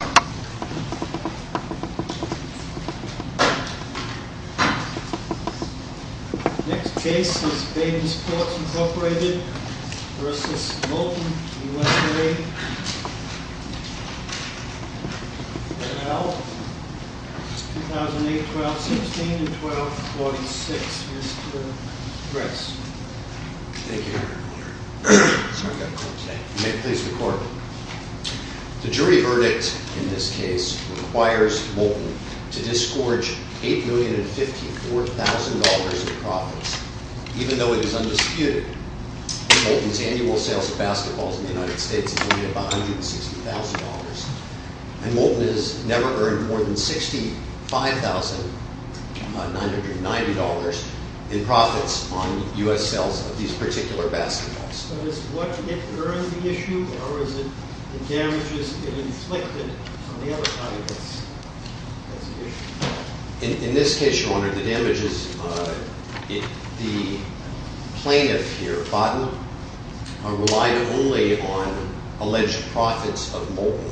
2008, 12-16, and 12-46, Mr. Dressen. The jury verdict in this case requires Molten to disgorge $8,054,000 in profits. Even though it is undisputed that Molten's annual sales of basketballs in the United States is only about $160,000. And Molten has never earned more than $65,990 in profits on U.S. sales of these particular basketballs. But is what it earned the issue, or is it the damages it inflicted on the other side of this issue? In this case, Your Honor, the damages, the plaintiff here, Botten, relied only on alleged profits of Molten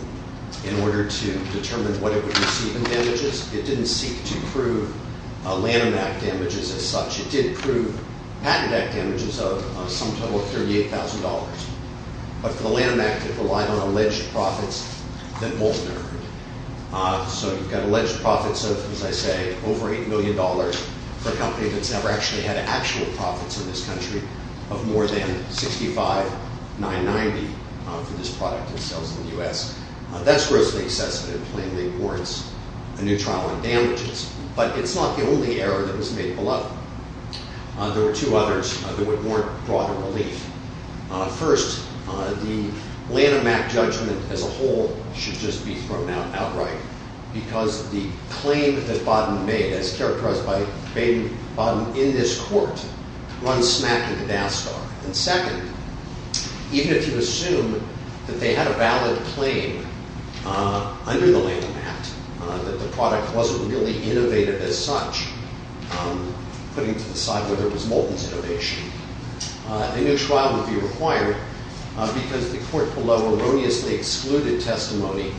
in order to determine what it would receive in damages. It didn't seek to prove Lanham Act damages as such. It did prove Patent Act damages of some total of $38,000. But for the Lanham Act, it relied on alleged profits that Molten earned. So you've got alleged profits of, as I say, over $8 million for a company that's never actually had actual profits in this country of more than $65,990 for this product in sales in the U.S. That's grossly excessive and plainly warrants a new trial on damages. But it's not the only error that was made below. There were two others that would warrant broader relief. First, the Lanham Act judgment as a whole should just be thrown out outright because the claim that Botten made, as characterized by Baden-Bottom in this court, runs smack in the NASCAR. And second, even if you assume that they had a valid claim under the Lanham Act that the product wasn't really innovative as such, putting to the side whether it was Molten's innovation, a new trial would be required because the court below erroneously excluded testimony,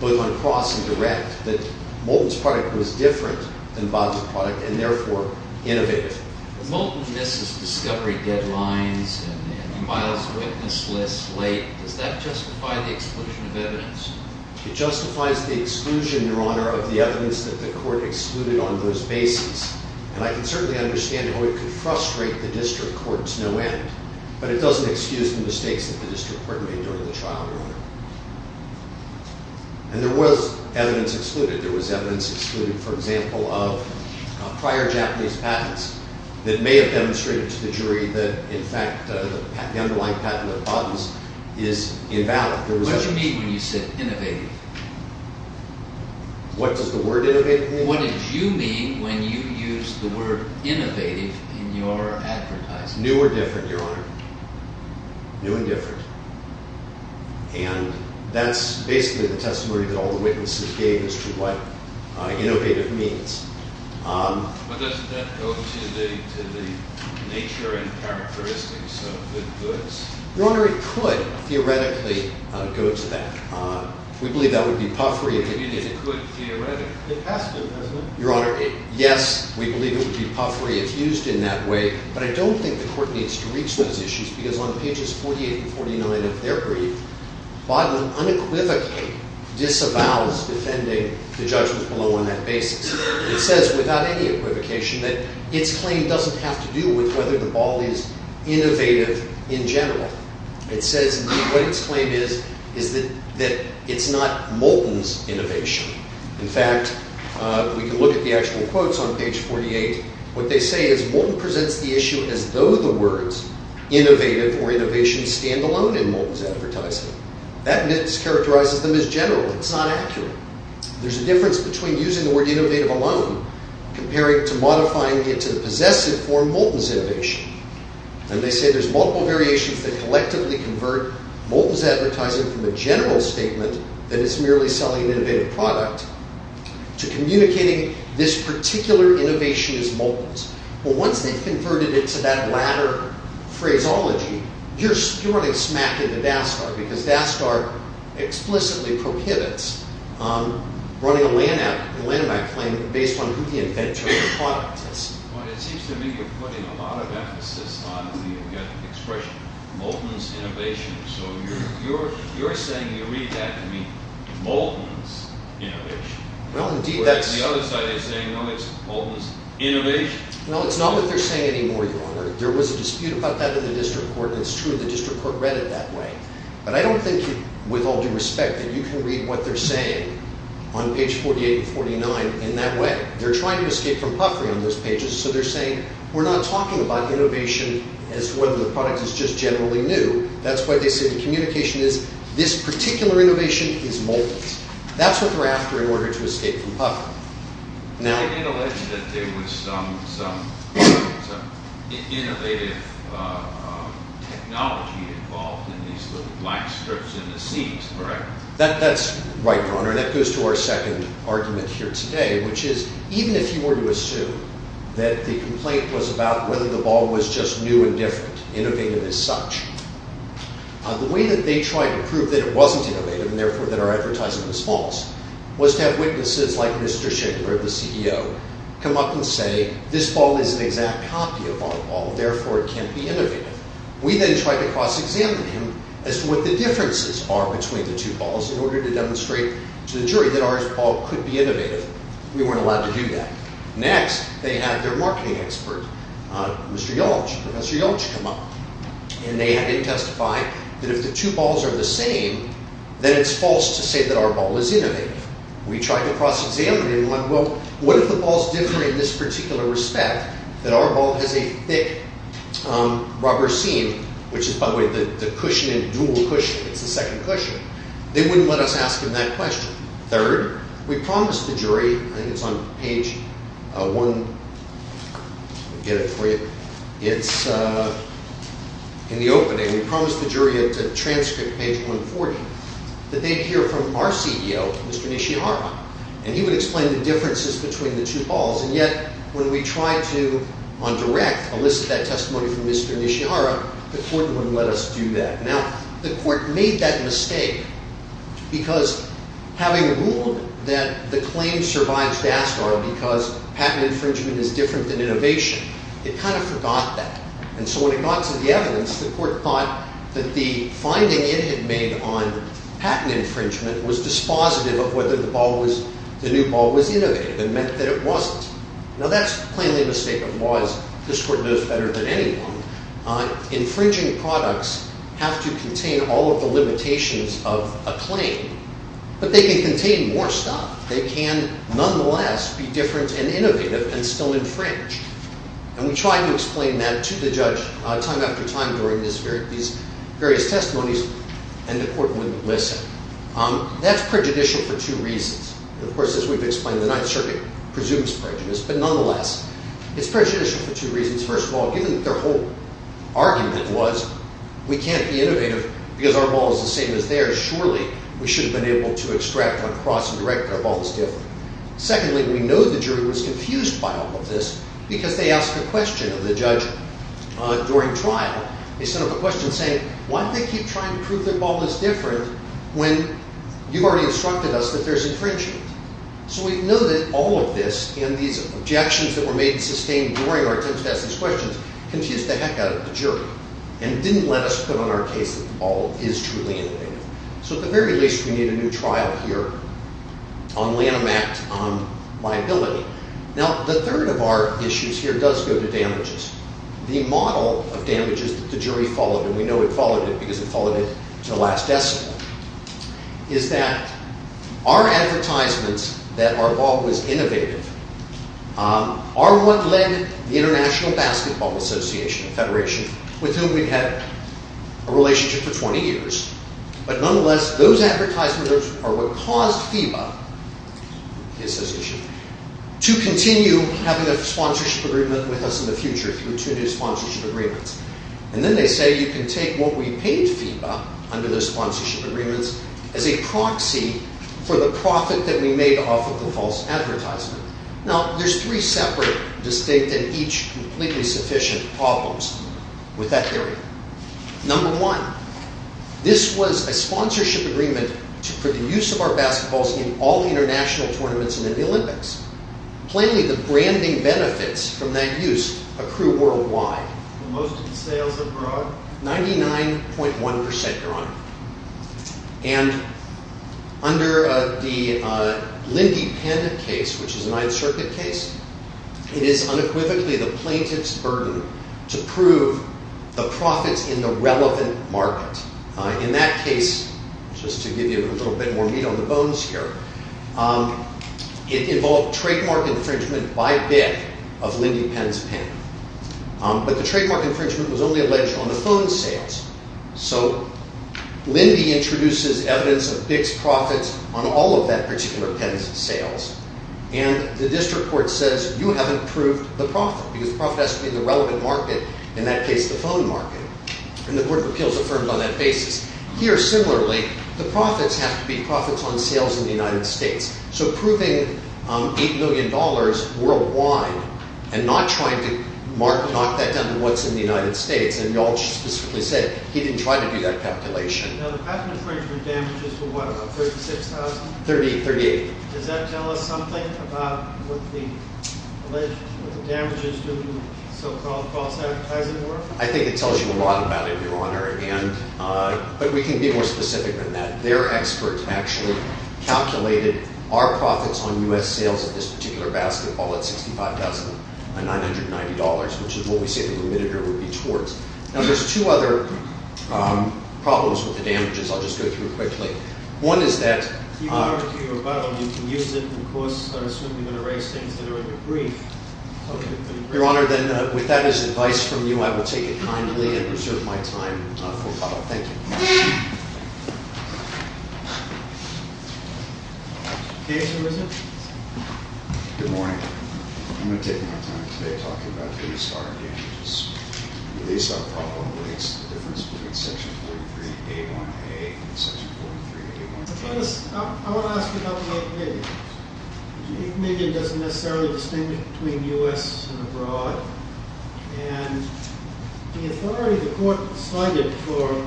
both on cross and direct, that Molten's product was different than Baden's product and therefore innovative. If Molten misses discovery deadlines and files a witness list late, does that justify the exclusion of evidence? It justifies the exclusion, Your Honor, of the evidence that the court excluded on those bases. And I can certainly understand how it could frustrate the district court to no end, but it doesn't excuse the mistakes that the district court made during the trial, Your Honor. And there was evidence excluded. There was evidence excluded, for example, of prior Japanese patents that may have demonstrated to the jury that, in fact, the underlying patent of Botten's is invalid. What did you mean when you said innovative? What does the word innovative mean? What did you mean when you used the word innovative in your advertising? New or different, Your Honor. New and different. And that's basically the testimony that all the witnesses gave as to what innovative means. But doesn't that go to the nature and characteristics of the goods? Your Honor, it could theoretically go to that. We believe that would be puffery. You mean it could theoretically? It has to, doesn't it? Your Honor, yes, we believe it would be puffery if used in that way. But I don't think the court needs to reach those issues because on pages 48 and 49 of their brief, Baden unequivocally disavows defending the judgments below on that basis. It says without any equivocation that its claim doesn't have to do with whether the ball is innovative in general. It says what its claim is is that it's not Moulton's innovation. In fact, we can look at the actual quotes on page 48. What they say is Moulton presents the issue as though the words innovative or innovation stand alone in Moulton's advertising. That characterizes them as general. It's not accurate. There's a difference between using the word innovative alone comparing to modifying it to the possessive form Moulton's innovation. And they say there's multiple variations that collectively convert Moulton's advertising from a general statement that it's merely selling an innovative product to communicating this particular innovation as Moulton's. But once they've converted it to that latter phraseology, you're running smack into Daskar because Daskar explicitly prohibits running a Lanham Act claim based on who the inventor of the product is. Well, it seems to me you're putting a lot of emphasis on the expression Moulton's innovation. So you're saying you read that to mean Moulton's innovation, whereas the other side is saying, well, it's Moulton's innovation. Well, it's not what they're saying anymore, Your Honor. There was a dispute about that in the district court, and it's true the district court read it that way. But I don't think, with all due respect, that you can read what they're saying on page 48 and 49 in that way. They're trying to escape from puffery on those pages, so they're saying we're not talking about innovation as whether the product is just generally new. That's why they say the communication is this particular innovation is Moulton's. That's what they're after in order to escape from puffery. They did allege that there was some innovative technology involved in these little black strips in the seats, correct? That's right, Your Honor, and that goes to our second argument here today, which is even if you were to assume that the complaint was about whether the ball was just new and different, innovative as such, the way that they tried to prove that it wasn't innovative and therefore that our advertising was false was to have witnesses like Mr. Schickler, the CEO, come up and say this ball is an exact copy of our ball, therefore it can't be innovative. We then tried to cross-examine him as to what the differences are between the two balls in order to demonstrate to the jury that our ball could be innovative. We weren't allowed to do that. Next, they had their marketing expert, Mr. Yalch, Professor Yalch, come up, and they had him testify that if the two balls are the same, then it's false to say that our ball is innovative. We tried to cross-examine him, like, well, what if the ball is different in this particular respect, that our ball has a thick rubber seam, which is, by the way, the cushion, the dual cushion, it's the second cushion. They wouldn't let us ask him that question. Third, we promised the jury, I think it's on page one, I'll get it for you, it's in the opening, we promised the jury to transcript page 140, that they'd hear from our CEO, Mr. Nishihara, and he would explain the differences between the two balls. And yet, when we tried to, on direct, elicit that testimony from Mr. Nishihara, the court wouldn't let us do that. Now, the court made that mistake because having ruled that the claim survives DASCAR because patent infringement is different than innovation, it kind of forgot that. And so when it got to the evidence, the court thought that the finding it had made on patent infringement was dispositive of whether the new ball was innovative and meant that it wasn't. Now, that's plainly a mistake of laws. This court knows better than anyone. Infringing products have to contain all of the limitations of a claim. But they can contain more stuff. They can, nonetheless, be different and innovative and still infringe. And we tried to explain that to the judge time after time during these various testimonies, and the court wouldn't listen. That's prejudicial for two reasons. Of course, as we've explained, the Ninth Circuit presumes prejudice. But nonetheless, it's prejudicial for two reasons. First of all, given that their whole argument was we can't be innovative because our ball is the same as theirs, surely we should have been able to extract on cross and direct that our ball is different. Secondly, we know the jury was confused by all of this because they asked a question of the judge during trial. They sent up a question saying, why do they keep trying to prove their ball is different when you've already instructed us that there's infringement? So we know that all of this and these objections that were made and sustained during our attempts to ask these questions confused the heck out of the jury and didn't let us put on our case that the ball is truly innovative. So at the very least, we need a new trial here on Lanham Act liability. Now, the third of our issues here does go to damages. The model of damages that the jury followed, and we know it followed it because it followed it to the last decimal, is that our advertisements that our ball was innovative are what led the International Basketball Association, a federation with whom we've had a relationship for 20 years, but nonetheless, those advertisements are what caused FIBA to continue having a sponsorship agreement with us in the future through two new sponsorship agreements. And then they say you can take what we paid FIBA under those sponsorship agreements as a proxy for the profit that we made off of the false advertisement. Now, there's three separate, distinct, and each completely sufficient problems with that theory. Number one, this was a sponsorship agreement for the use of our basketballs in all international tournaments and in the Olympics. Plainly, the branding benefits from that use accrue worldwide. Most of the sales abroad? 99.1%, Your Honor. And under the Lindy Penn case, which is a Ninth Circuit case, it is unequivocally the plaintiff's burden to prove the profits in the relevant market. In that case, just to give you a little bit more meat on the bones here, it involved trademark infringement by BIC of Lindy Penn's pen. But the trademark infringement was only alleged on the phone sales. So Lindy introduces evidence of BIC's profits on all of that particular pen's sales. And the district court says, you haven't proved the profit, because the profit has to be in the relevant market, in that case, the phone market. And the Court of Appeals affirmed on that basis. Here, similarly, the profits have to be profits on sales in the United States. So proving $8 million worldwide and not trying to knock that down to what's in the United States, and Yalch specifically said he didn't try to do that calculation. Now, the patent infringement damages were what, about $36,000? $38,000. Does that tell us something about what the damages to so-called false advertising were? I think it tells you a lot about it, Your Honor. But we can be more specific than that. Their experts actually calculated our profits on U.S. sales of this particular basketball at $65,990, which is what we say the remitted error would be towards. Now, there's two other problems with the damages I'll just go through quickly. One is that— If you want to argue about them, you can use it in the course. I assume you're going to raise things that are in your brief. Okay. Your Honor, then, with that as advice from you, I will take it kindly and reserve my time for follow-up. Thank you. Case and resumption. Good morning. I'm going to take my time today talking about the restart damages. At least our problem relates to the difference between Section 43A1A and Section 43A1A. I want to ask about the media. The media doesn't necessarily distinguish between U.S. and abroad. And the authority the court cited for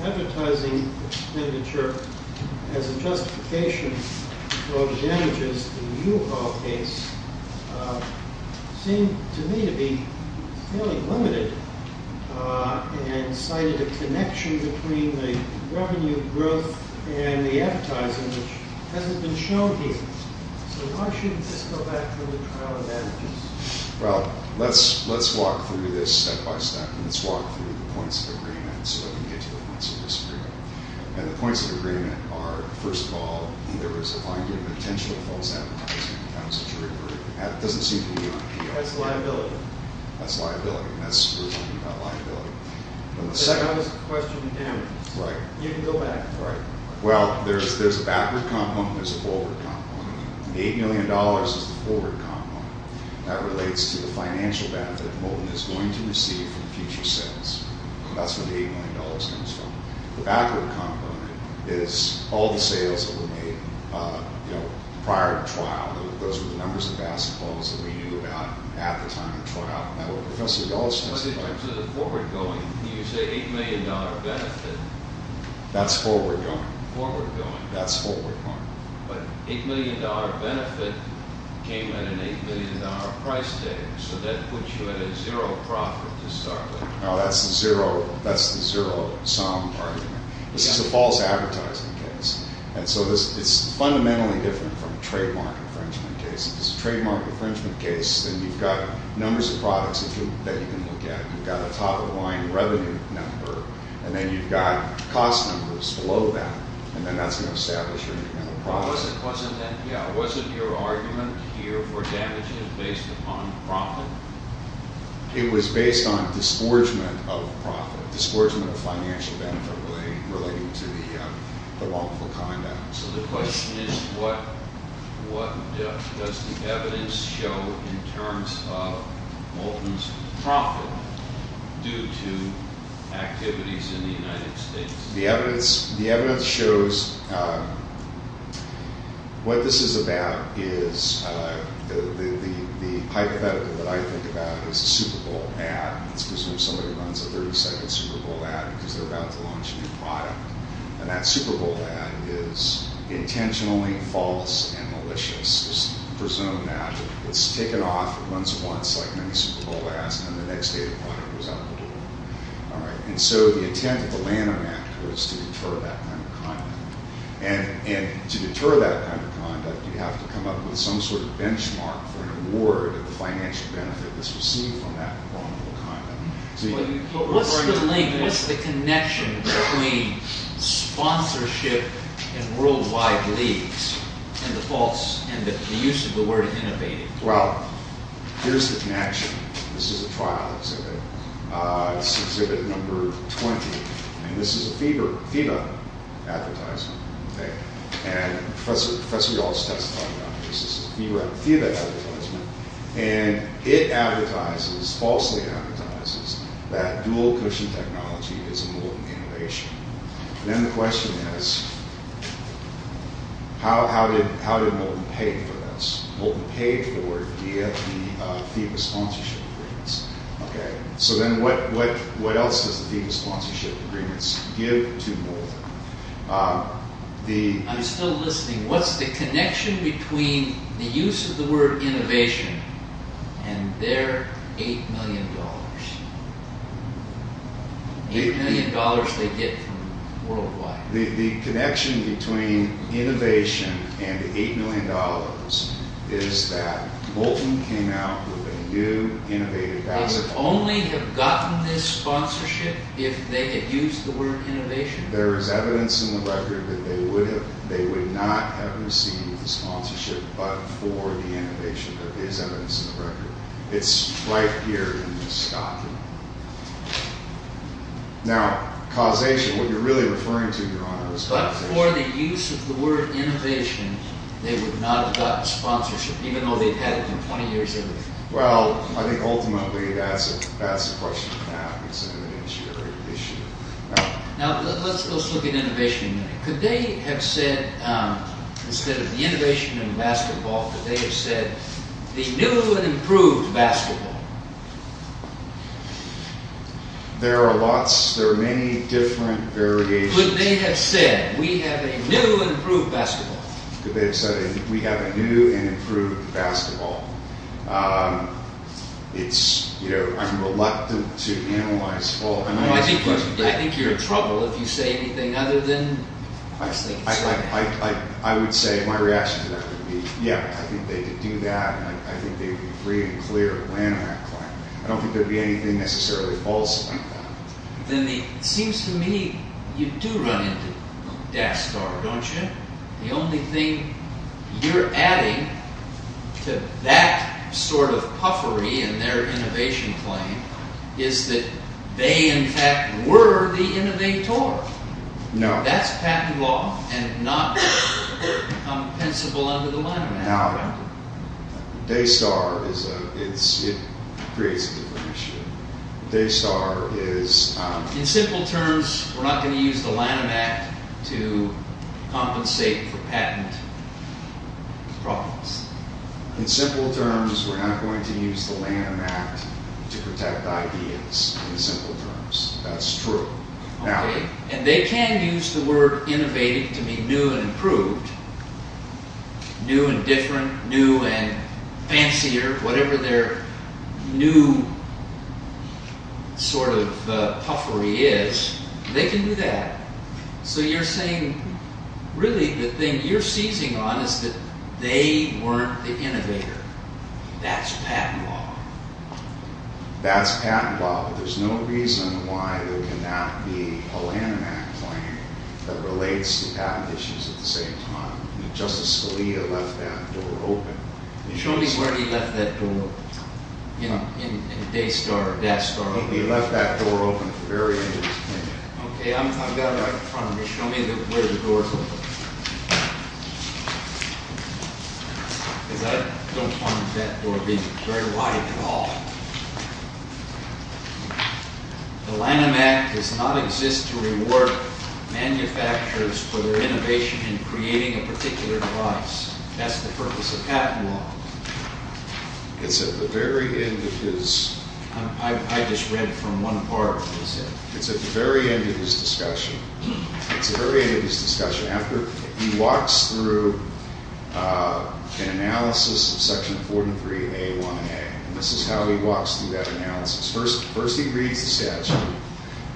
advertising expenditure as a justification for damages in the U of R case seemed to me to be fairly limited and cited a connection between the revenue growth and the advertising, which hasn't been shown here. So why shouldn't this go back to the trial of damages? Well, let's walk through this step-by-step. Let's walk through the points of agreement so that we can get to the points of disagreement. And the points of agreement are, first of all, there was a finding of intentional false advertising in accounts of jury verdict. That doesn't seem to be on here. That's liability. That's liability. That's what we're talking about, liability. But the second— That was a question of damages. Right. You can go back. Right. Well, there's a backward component. There's a forward component. The $8 million is the forward component. That relates to the financial benefit the moment is going to receive from future sales. That's where the $8 million comes from. The backward component is all the sales that were made, you know, prior to trial. Those were the numbers of basketballs that we knew about at the time of the trial. And that's what Professor Yost testified to. But in terms of the forward going, you say $8 million benefit. That's forward going. Forward going. That's forward going. But $8 million benefit came at an $8 million price tag. So that puts you at a zero profit to start with. No, that's the zero sum argument. This is a false advertising case. And so it's fundamentally different from a trademark infringement case. If it's a trademark infringement case, then you've got numbers of products that you can look at. You've got a top-of-the-line revenue number. And then you've got cost numbers below that. And then that's going to establish your incremental profit. Wasn't NPR, wasn't your argument here for damages based upon profit? It was based on disgorgement of profit, disgorgement of financial benefit relating to the wrongful conduct. So the question is what does the evidence show in terms of Moulton's profit due to activities in the United States? The evidence shows what this is about is the hypothetical that I think about is a Super Bowl ad. It's because somebody runs a 30-second Super Bowl ad because they're about to launch a new product. And that Super Bowl ad is intentionally false and malicious. It's presumed that it's taken off once, like many Super Bowl ads, and the next day the product was out the door. And so the intent of the Lanham Act was to deter that kind of conduct. And to deter that kind of conduct, you have to come up with some sort of benchmark for an award of the financial benefit that's received from that wrongful conduct. What's the link, what's the connection between sponsorship and worldwide leagues and the false, and the use of the word innovative? Well, here's the connection. This is a trial exhibit. This is exhibit number 20. And this is a FIBA advertisement. And Professor Yost has talked about this. This is a FIBA advertisement. And it falsely advertises that dual-cushion technology is a molten innovation. And then the question is, how did molten pay for this? Molten paid for it via the FIBA sponsorship agreements. So then what else does the FIBA sponsorship agreements give to molten? I'm still listening. What's the connection between the use of the word innovation and their $8 million? $8 million they get from worldwide. The connection between innovation and the $8 million is that molten came out with a new innovative asset. They'd only have gotten this sponsorship if they had used the word innovation. There is evidence in the record that they would not have received the sponsorship but for the innovation. There is evidence in the record. It's right here in this document. Now, causation, what you're really referring to, Your Honor, is causation. But for the use of the word innovation, they would not have gotten sponsorship, even though they've had it for 20 years. Well, I think ultimately that's the question now. Now, let's look at innovation. Could they have said, instead of the innovation in basketball, could they have said the new and improved basketball? There are lots. There are many different variations. Could they have said, we have a new and improved basketball? Could they have said, we have a new and improved basketball? It's, you know, I'm reluctant to analyze all. I think you're in trouble if you say anything other than, I just think it's right. I would say my reaction to that would be, yeah, I think they could do that. I think they'd be free and clear of land on that claim. I don't think there'd be anything necessarily false about that. Then it seems to me you do run into death star, don't you? The only thing you're adding to that sort of puffery in their innovation claim is that they, in fact, were the innovator. No. That's patent law and not compensable under the Lanham Act. No. Daystar is, it creates a different issue. Daystar is... In simple terms, we're not going to use the Lanham Act to compensate for patent problems. In simple terms, we're not going to use the Lanham Act to protect ideas. In simple terms. That's true. And they can use the word innovative to mean new and improved, new and different, new and fancier, whatever their new sort of puffery is. They can do that. So you're saying, really, the thing you're seizing on is that they weren't the innovator. That's patent law. That's patent law. There's no reason why there cannot be a Lanham Act claim that relates to patent issues at the same time. Justice Scalia left that door open. Show me where he left that door in Daystar or Death Star. He left that door open for various reasons. Okay. I've got it right in front of me. Show me where the door is open. Because I don't find that door being very wide at all. The Lanham Act does not exist to reward manufacturers for their innovation in creating a particular device. That's the purpose of patent law. It's at the very end of his... I just read it from one part. It's at the very end of his discussion. It's at the very end of his discussion. After, he walks through an analysis of Section 403A1A. And this is how he walks through that analysis. First, he reads the statute.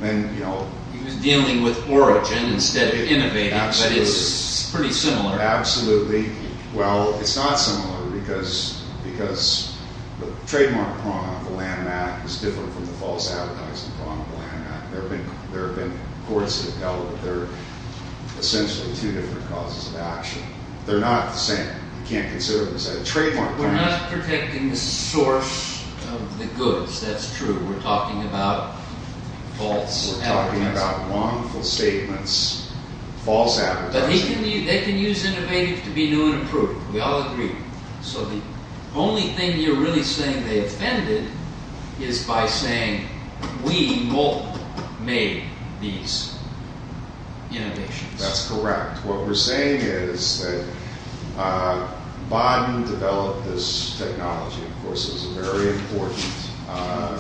Then, you know... He was dealing with origin instead of innovating. Absolutely. But it's pretty similar. Absolutely. Well, it's not similar because the trademark prong of the Lanham Act is different from the false advertising prong of the Lanham Act. There have been courts that have held that they're essentially two different causes of action. They're not the same. You can't consider them as trademark prongs. We're not protecting the source of the goods. That's true. We're talking about false advertising. We're talking about wrongful statements, false advertising. But they can use innovative to be new and improved. We all agree. So, the only thing you're really saying they offended is by saying, we multiple made these innovations. That's correct. What we're saying is that Biden developed this technology. Of course, it was very important.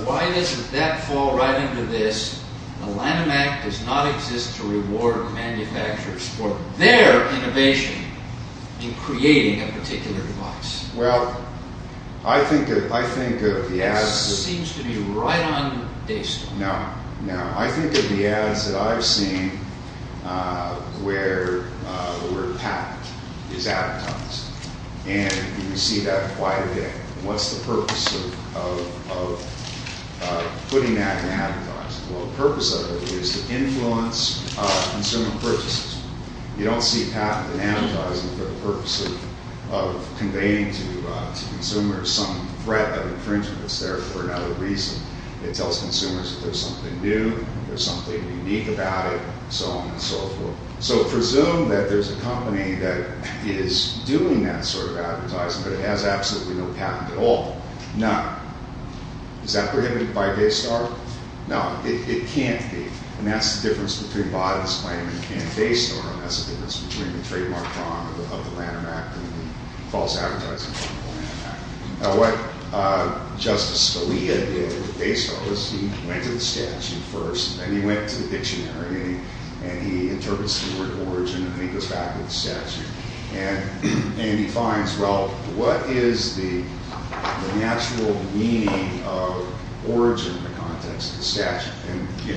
Why doesn't that fall right into this? The Lanham Act does not exist to reward manufacturers for their innovation in creating a particular device. Well, I think of the ads... It seems to be right on the day stone. No, no. I think of the ads that I've seen where the word patent is advertised. And you see that quite a bit. What's the purpose of putting that in advertising? Well, the purpose of it is to influence consumer purchases. You don't see patent in advertising for the purpose of conveying to consumers some threat of infringement. It's there for another reason. It tells consumers that there's something new, there's something unique about it, so on and so forth. So, presume that there's a company that is doing that sort of advertising, but it has absolutely no patent at all. None. Is that prohibited by Daystar? No, it can't be. And that's the difference between Biden's claim and Daystar. And that's the difference between the trademark crime of the Lanham Act and the false advertising of the Lanham Act. Now, what Justice Scalia did with Daystar was he went to the statute first, and then he went to the dictionary, and he interprets the word origin, and then he goes back to the statute. And he finds, well, what is the natural meaning of origin in the context of the statute? And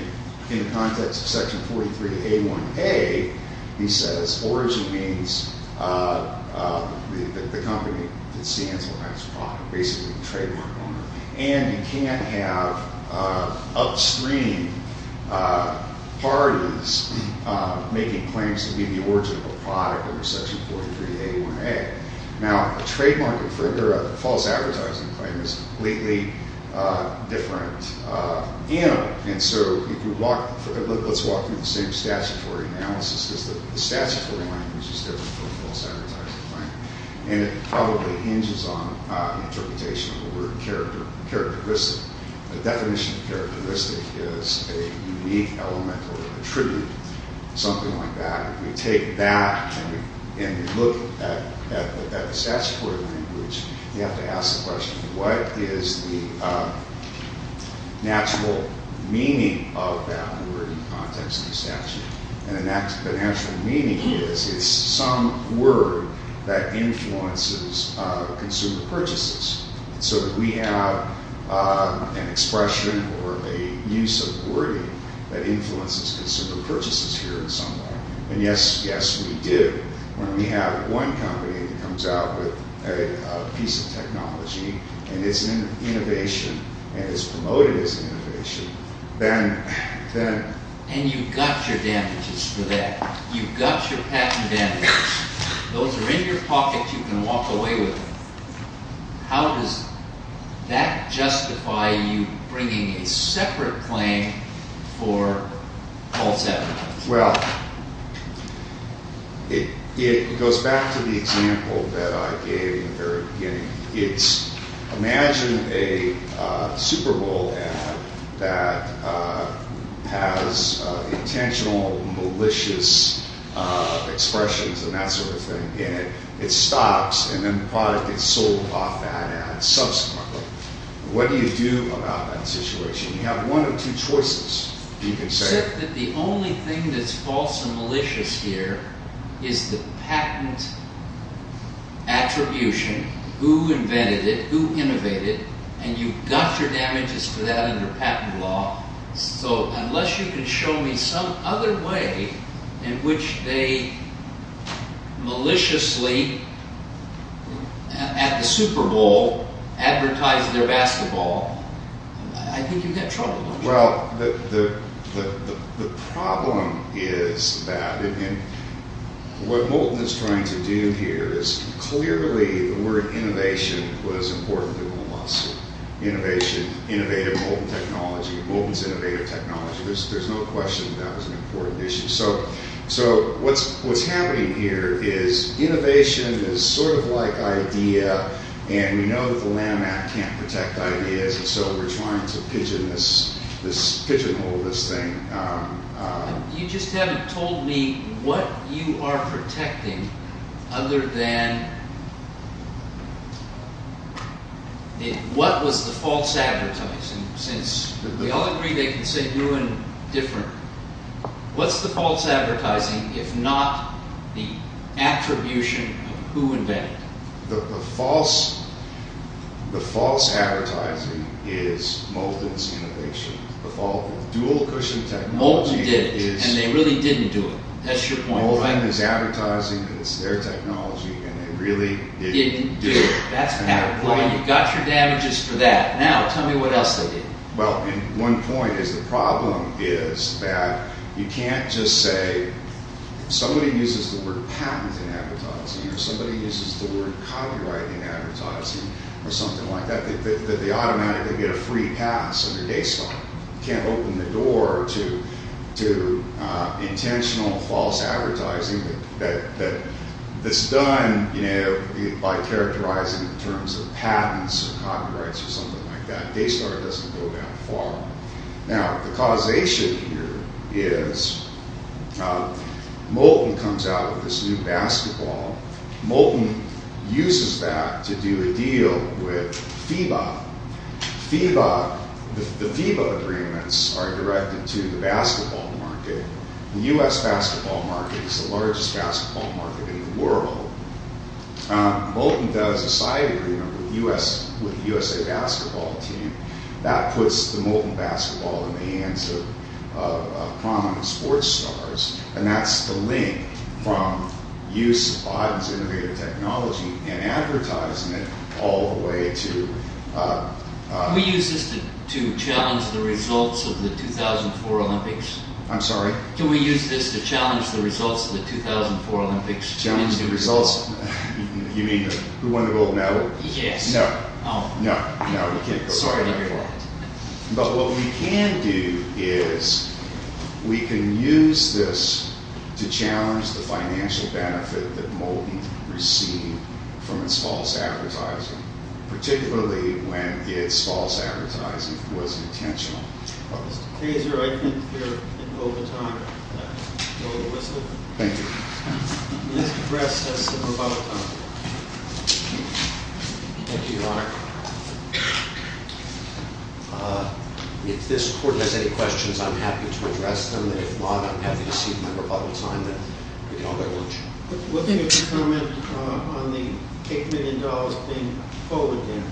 in the context of Section 43A1A, he says origin means the company that stands behind this product, basically the trademark owner. And you can't have upstream parties making claims to be the origin of a product under Section 43A1A. Now, a trademark infringer, a false advertising claim, is a completely different animal. And so if you walk through the same statutory analysis, the statutory language is different from a false advertising claim. And it probably hinges on the interpretation of the word characteristic. The definition of characteristic is a unique element or attribute, something like that. Now, if you take that and you look at the statutory language, you have to ask the question, what is the natural meaning of that word in the context of the statute? And the natural meaning is it's some word that influences consumer purchases. So we have an expression or a use of wording that influences consumer purchases here in some way. And yes, yes, we do. When we have one company that comes out with a piece of technology and it's in innovation and it's promoted as innovation, then... And you've got your damages for that. You've got your patent damages. Those are in your pocket. You can walk away with them. How does that justify you bringing a separate claim for false advertising? Well, it goes back to the example that I gave in the very beginning. Imagine a Super Bowl ad that has intentional malicious expressions and that sort of thing in it. It stops, and then the product gets sold off that ad subsequently. What do you do about that situation? You have one of two choices, you can say. You assert that the only thing that's false and malicious here is the patent attribution. Who invented it? Who innovated it? And you've got your damages for that under patent law. So unless you can show me some other way in which they maliciously, at the Super Bowl, advertise their basketball, I think you've got trouble. Well, the problem is that what Moulton is trying to do here is... Clearly, the word innovation was important to him a lot. Innovation, innovative Moulton technology. Moulton's innovative technology. There's no question that that was an important issue. So what's happening here is innovation is sort of like idea, and we know that the Lanham Act can't protect ideas. So we're trying to pigeonhole this thing. You just haven't told me what you are protecting other than... What was the false advertising? Since we all agree they can say new and different. What's the false advertising, if not the attribution of who invented it? The false advertising is Moulton's innovation. The dual cushion technology is... Moulton did it, and they really didn't do it. That's your point, right? Moulton is advertising. It's their technology, and they really didn't do it. Didn't do it. That's patent law. You've got your damages for that. Now, tell me what else they did. Well, and one point is the problem is that you can't just say somebody uses the word patent in advertising, or somebody uses the word copyright in advertising, or something like that. They automatically get a free pass under Daystar. You can't open the door to intentional false advertising that's done by characterizing it in terms of patents or copyrights or something like that. Daystar doesn't go that far. Now, the causation here is Moulton comes out with this new basketball. Moulton uses that to do a deal with FIBA. The FIBA agreements are directed to the basketball market. The U.S. basketball market is the largest basketball market in the world. Moulton does a side agreement with the U.S.A. basketball team. That puts the Moulton basketball in the hands of prominent sports stars, and that's the link from use of Odden's innovative technology and advertising it all the way to— Can we use this to challenge the results of the 2004 Olympics? I'm sorry? Can we use this to challenge the results of the 2004 Olympics? Challenge the results? You mean who won the gold medal? Yes. No, no, no, you can't go that far. Sorry to hear that. But what we can do is we can use this to challenge the financial benefit that Moulton received from its false advertising, particularly when its false advertising was intentional. Mr. Kraser, I think you're in overtime. Can I blow the whistle? Thank you. Mr. Kraser has some rebuttals. Thank you, Your Honor. If this Court has any questions, I'm happy to address them. And if not, I'm happy to see my rebuttal time, and then we can all go to lunch. What do you make of the comment on the $8 million being a foe again?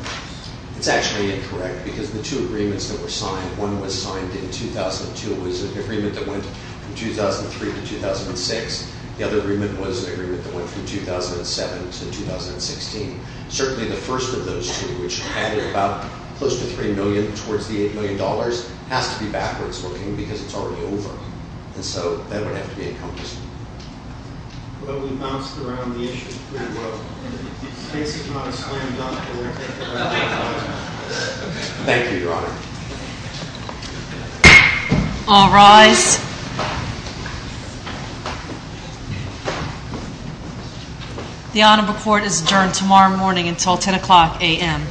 It's actually incorrect, because the two agreements that were signed, one was signed in 2002. It was an agreement that went from 2003 to 2006. The other agreement was an agreement that went from 2007 to 2016. Certainly the first of those two, which added about close to $3 million towards the $8 million, has to be backwards looking because it's already over. And so that would have to be encompassed. Well, we bounced around the issue pretty well. It's basically not a slam dunk. Thank you, Your Honor. All rise. The Honorable Court is adjourned tomorrow morning until 10 o'clock a.m.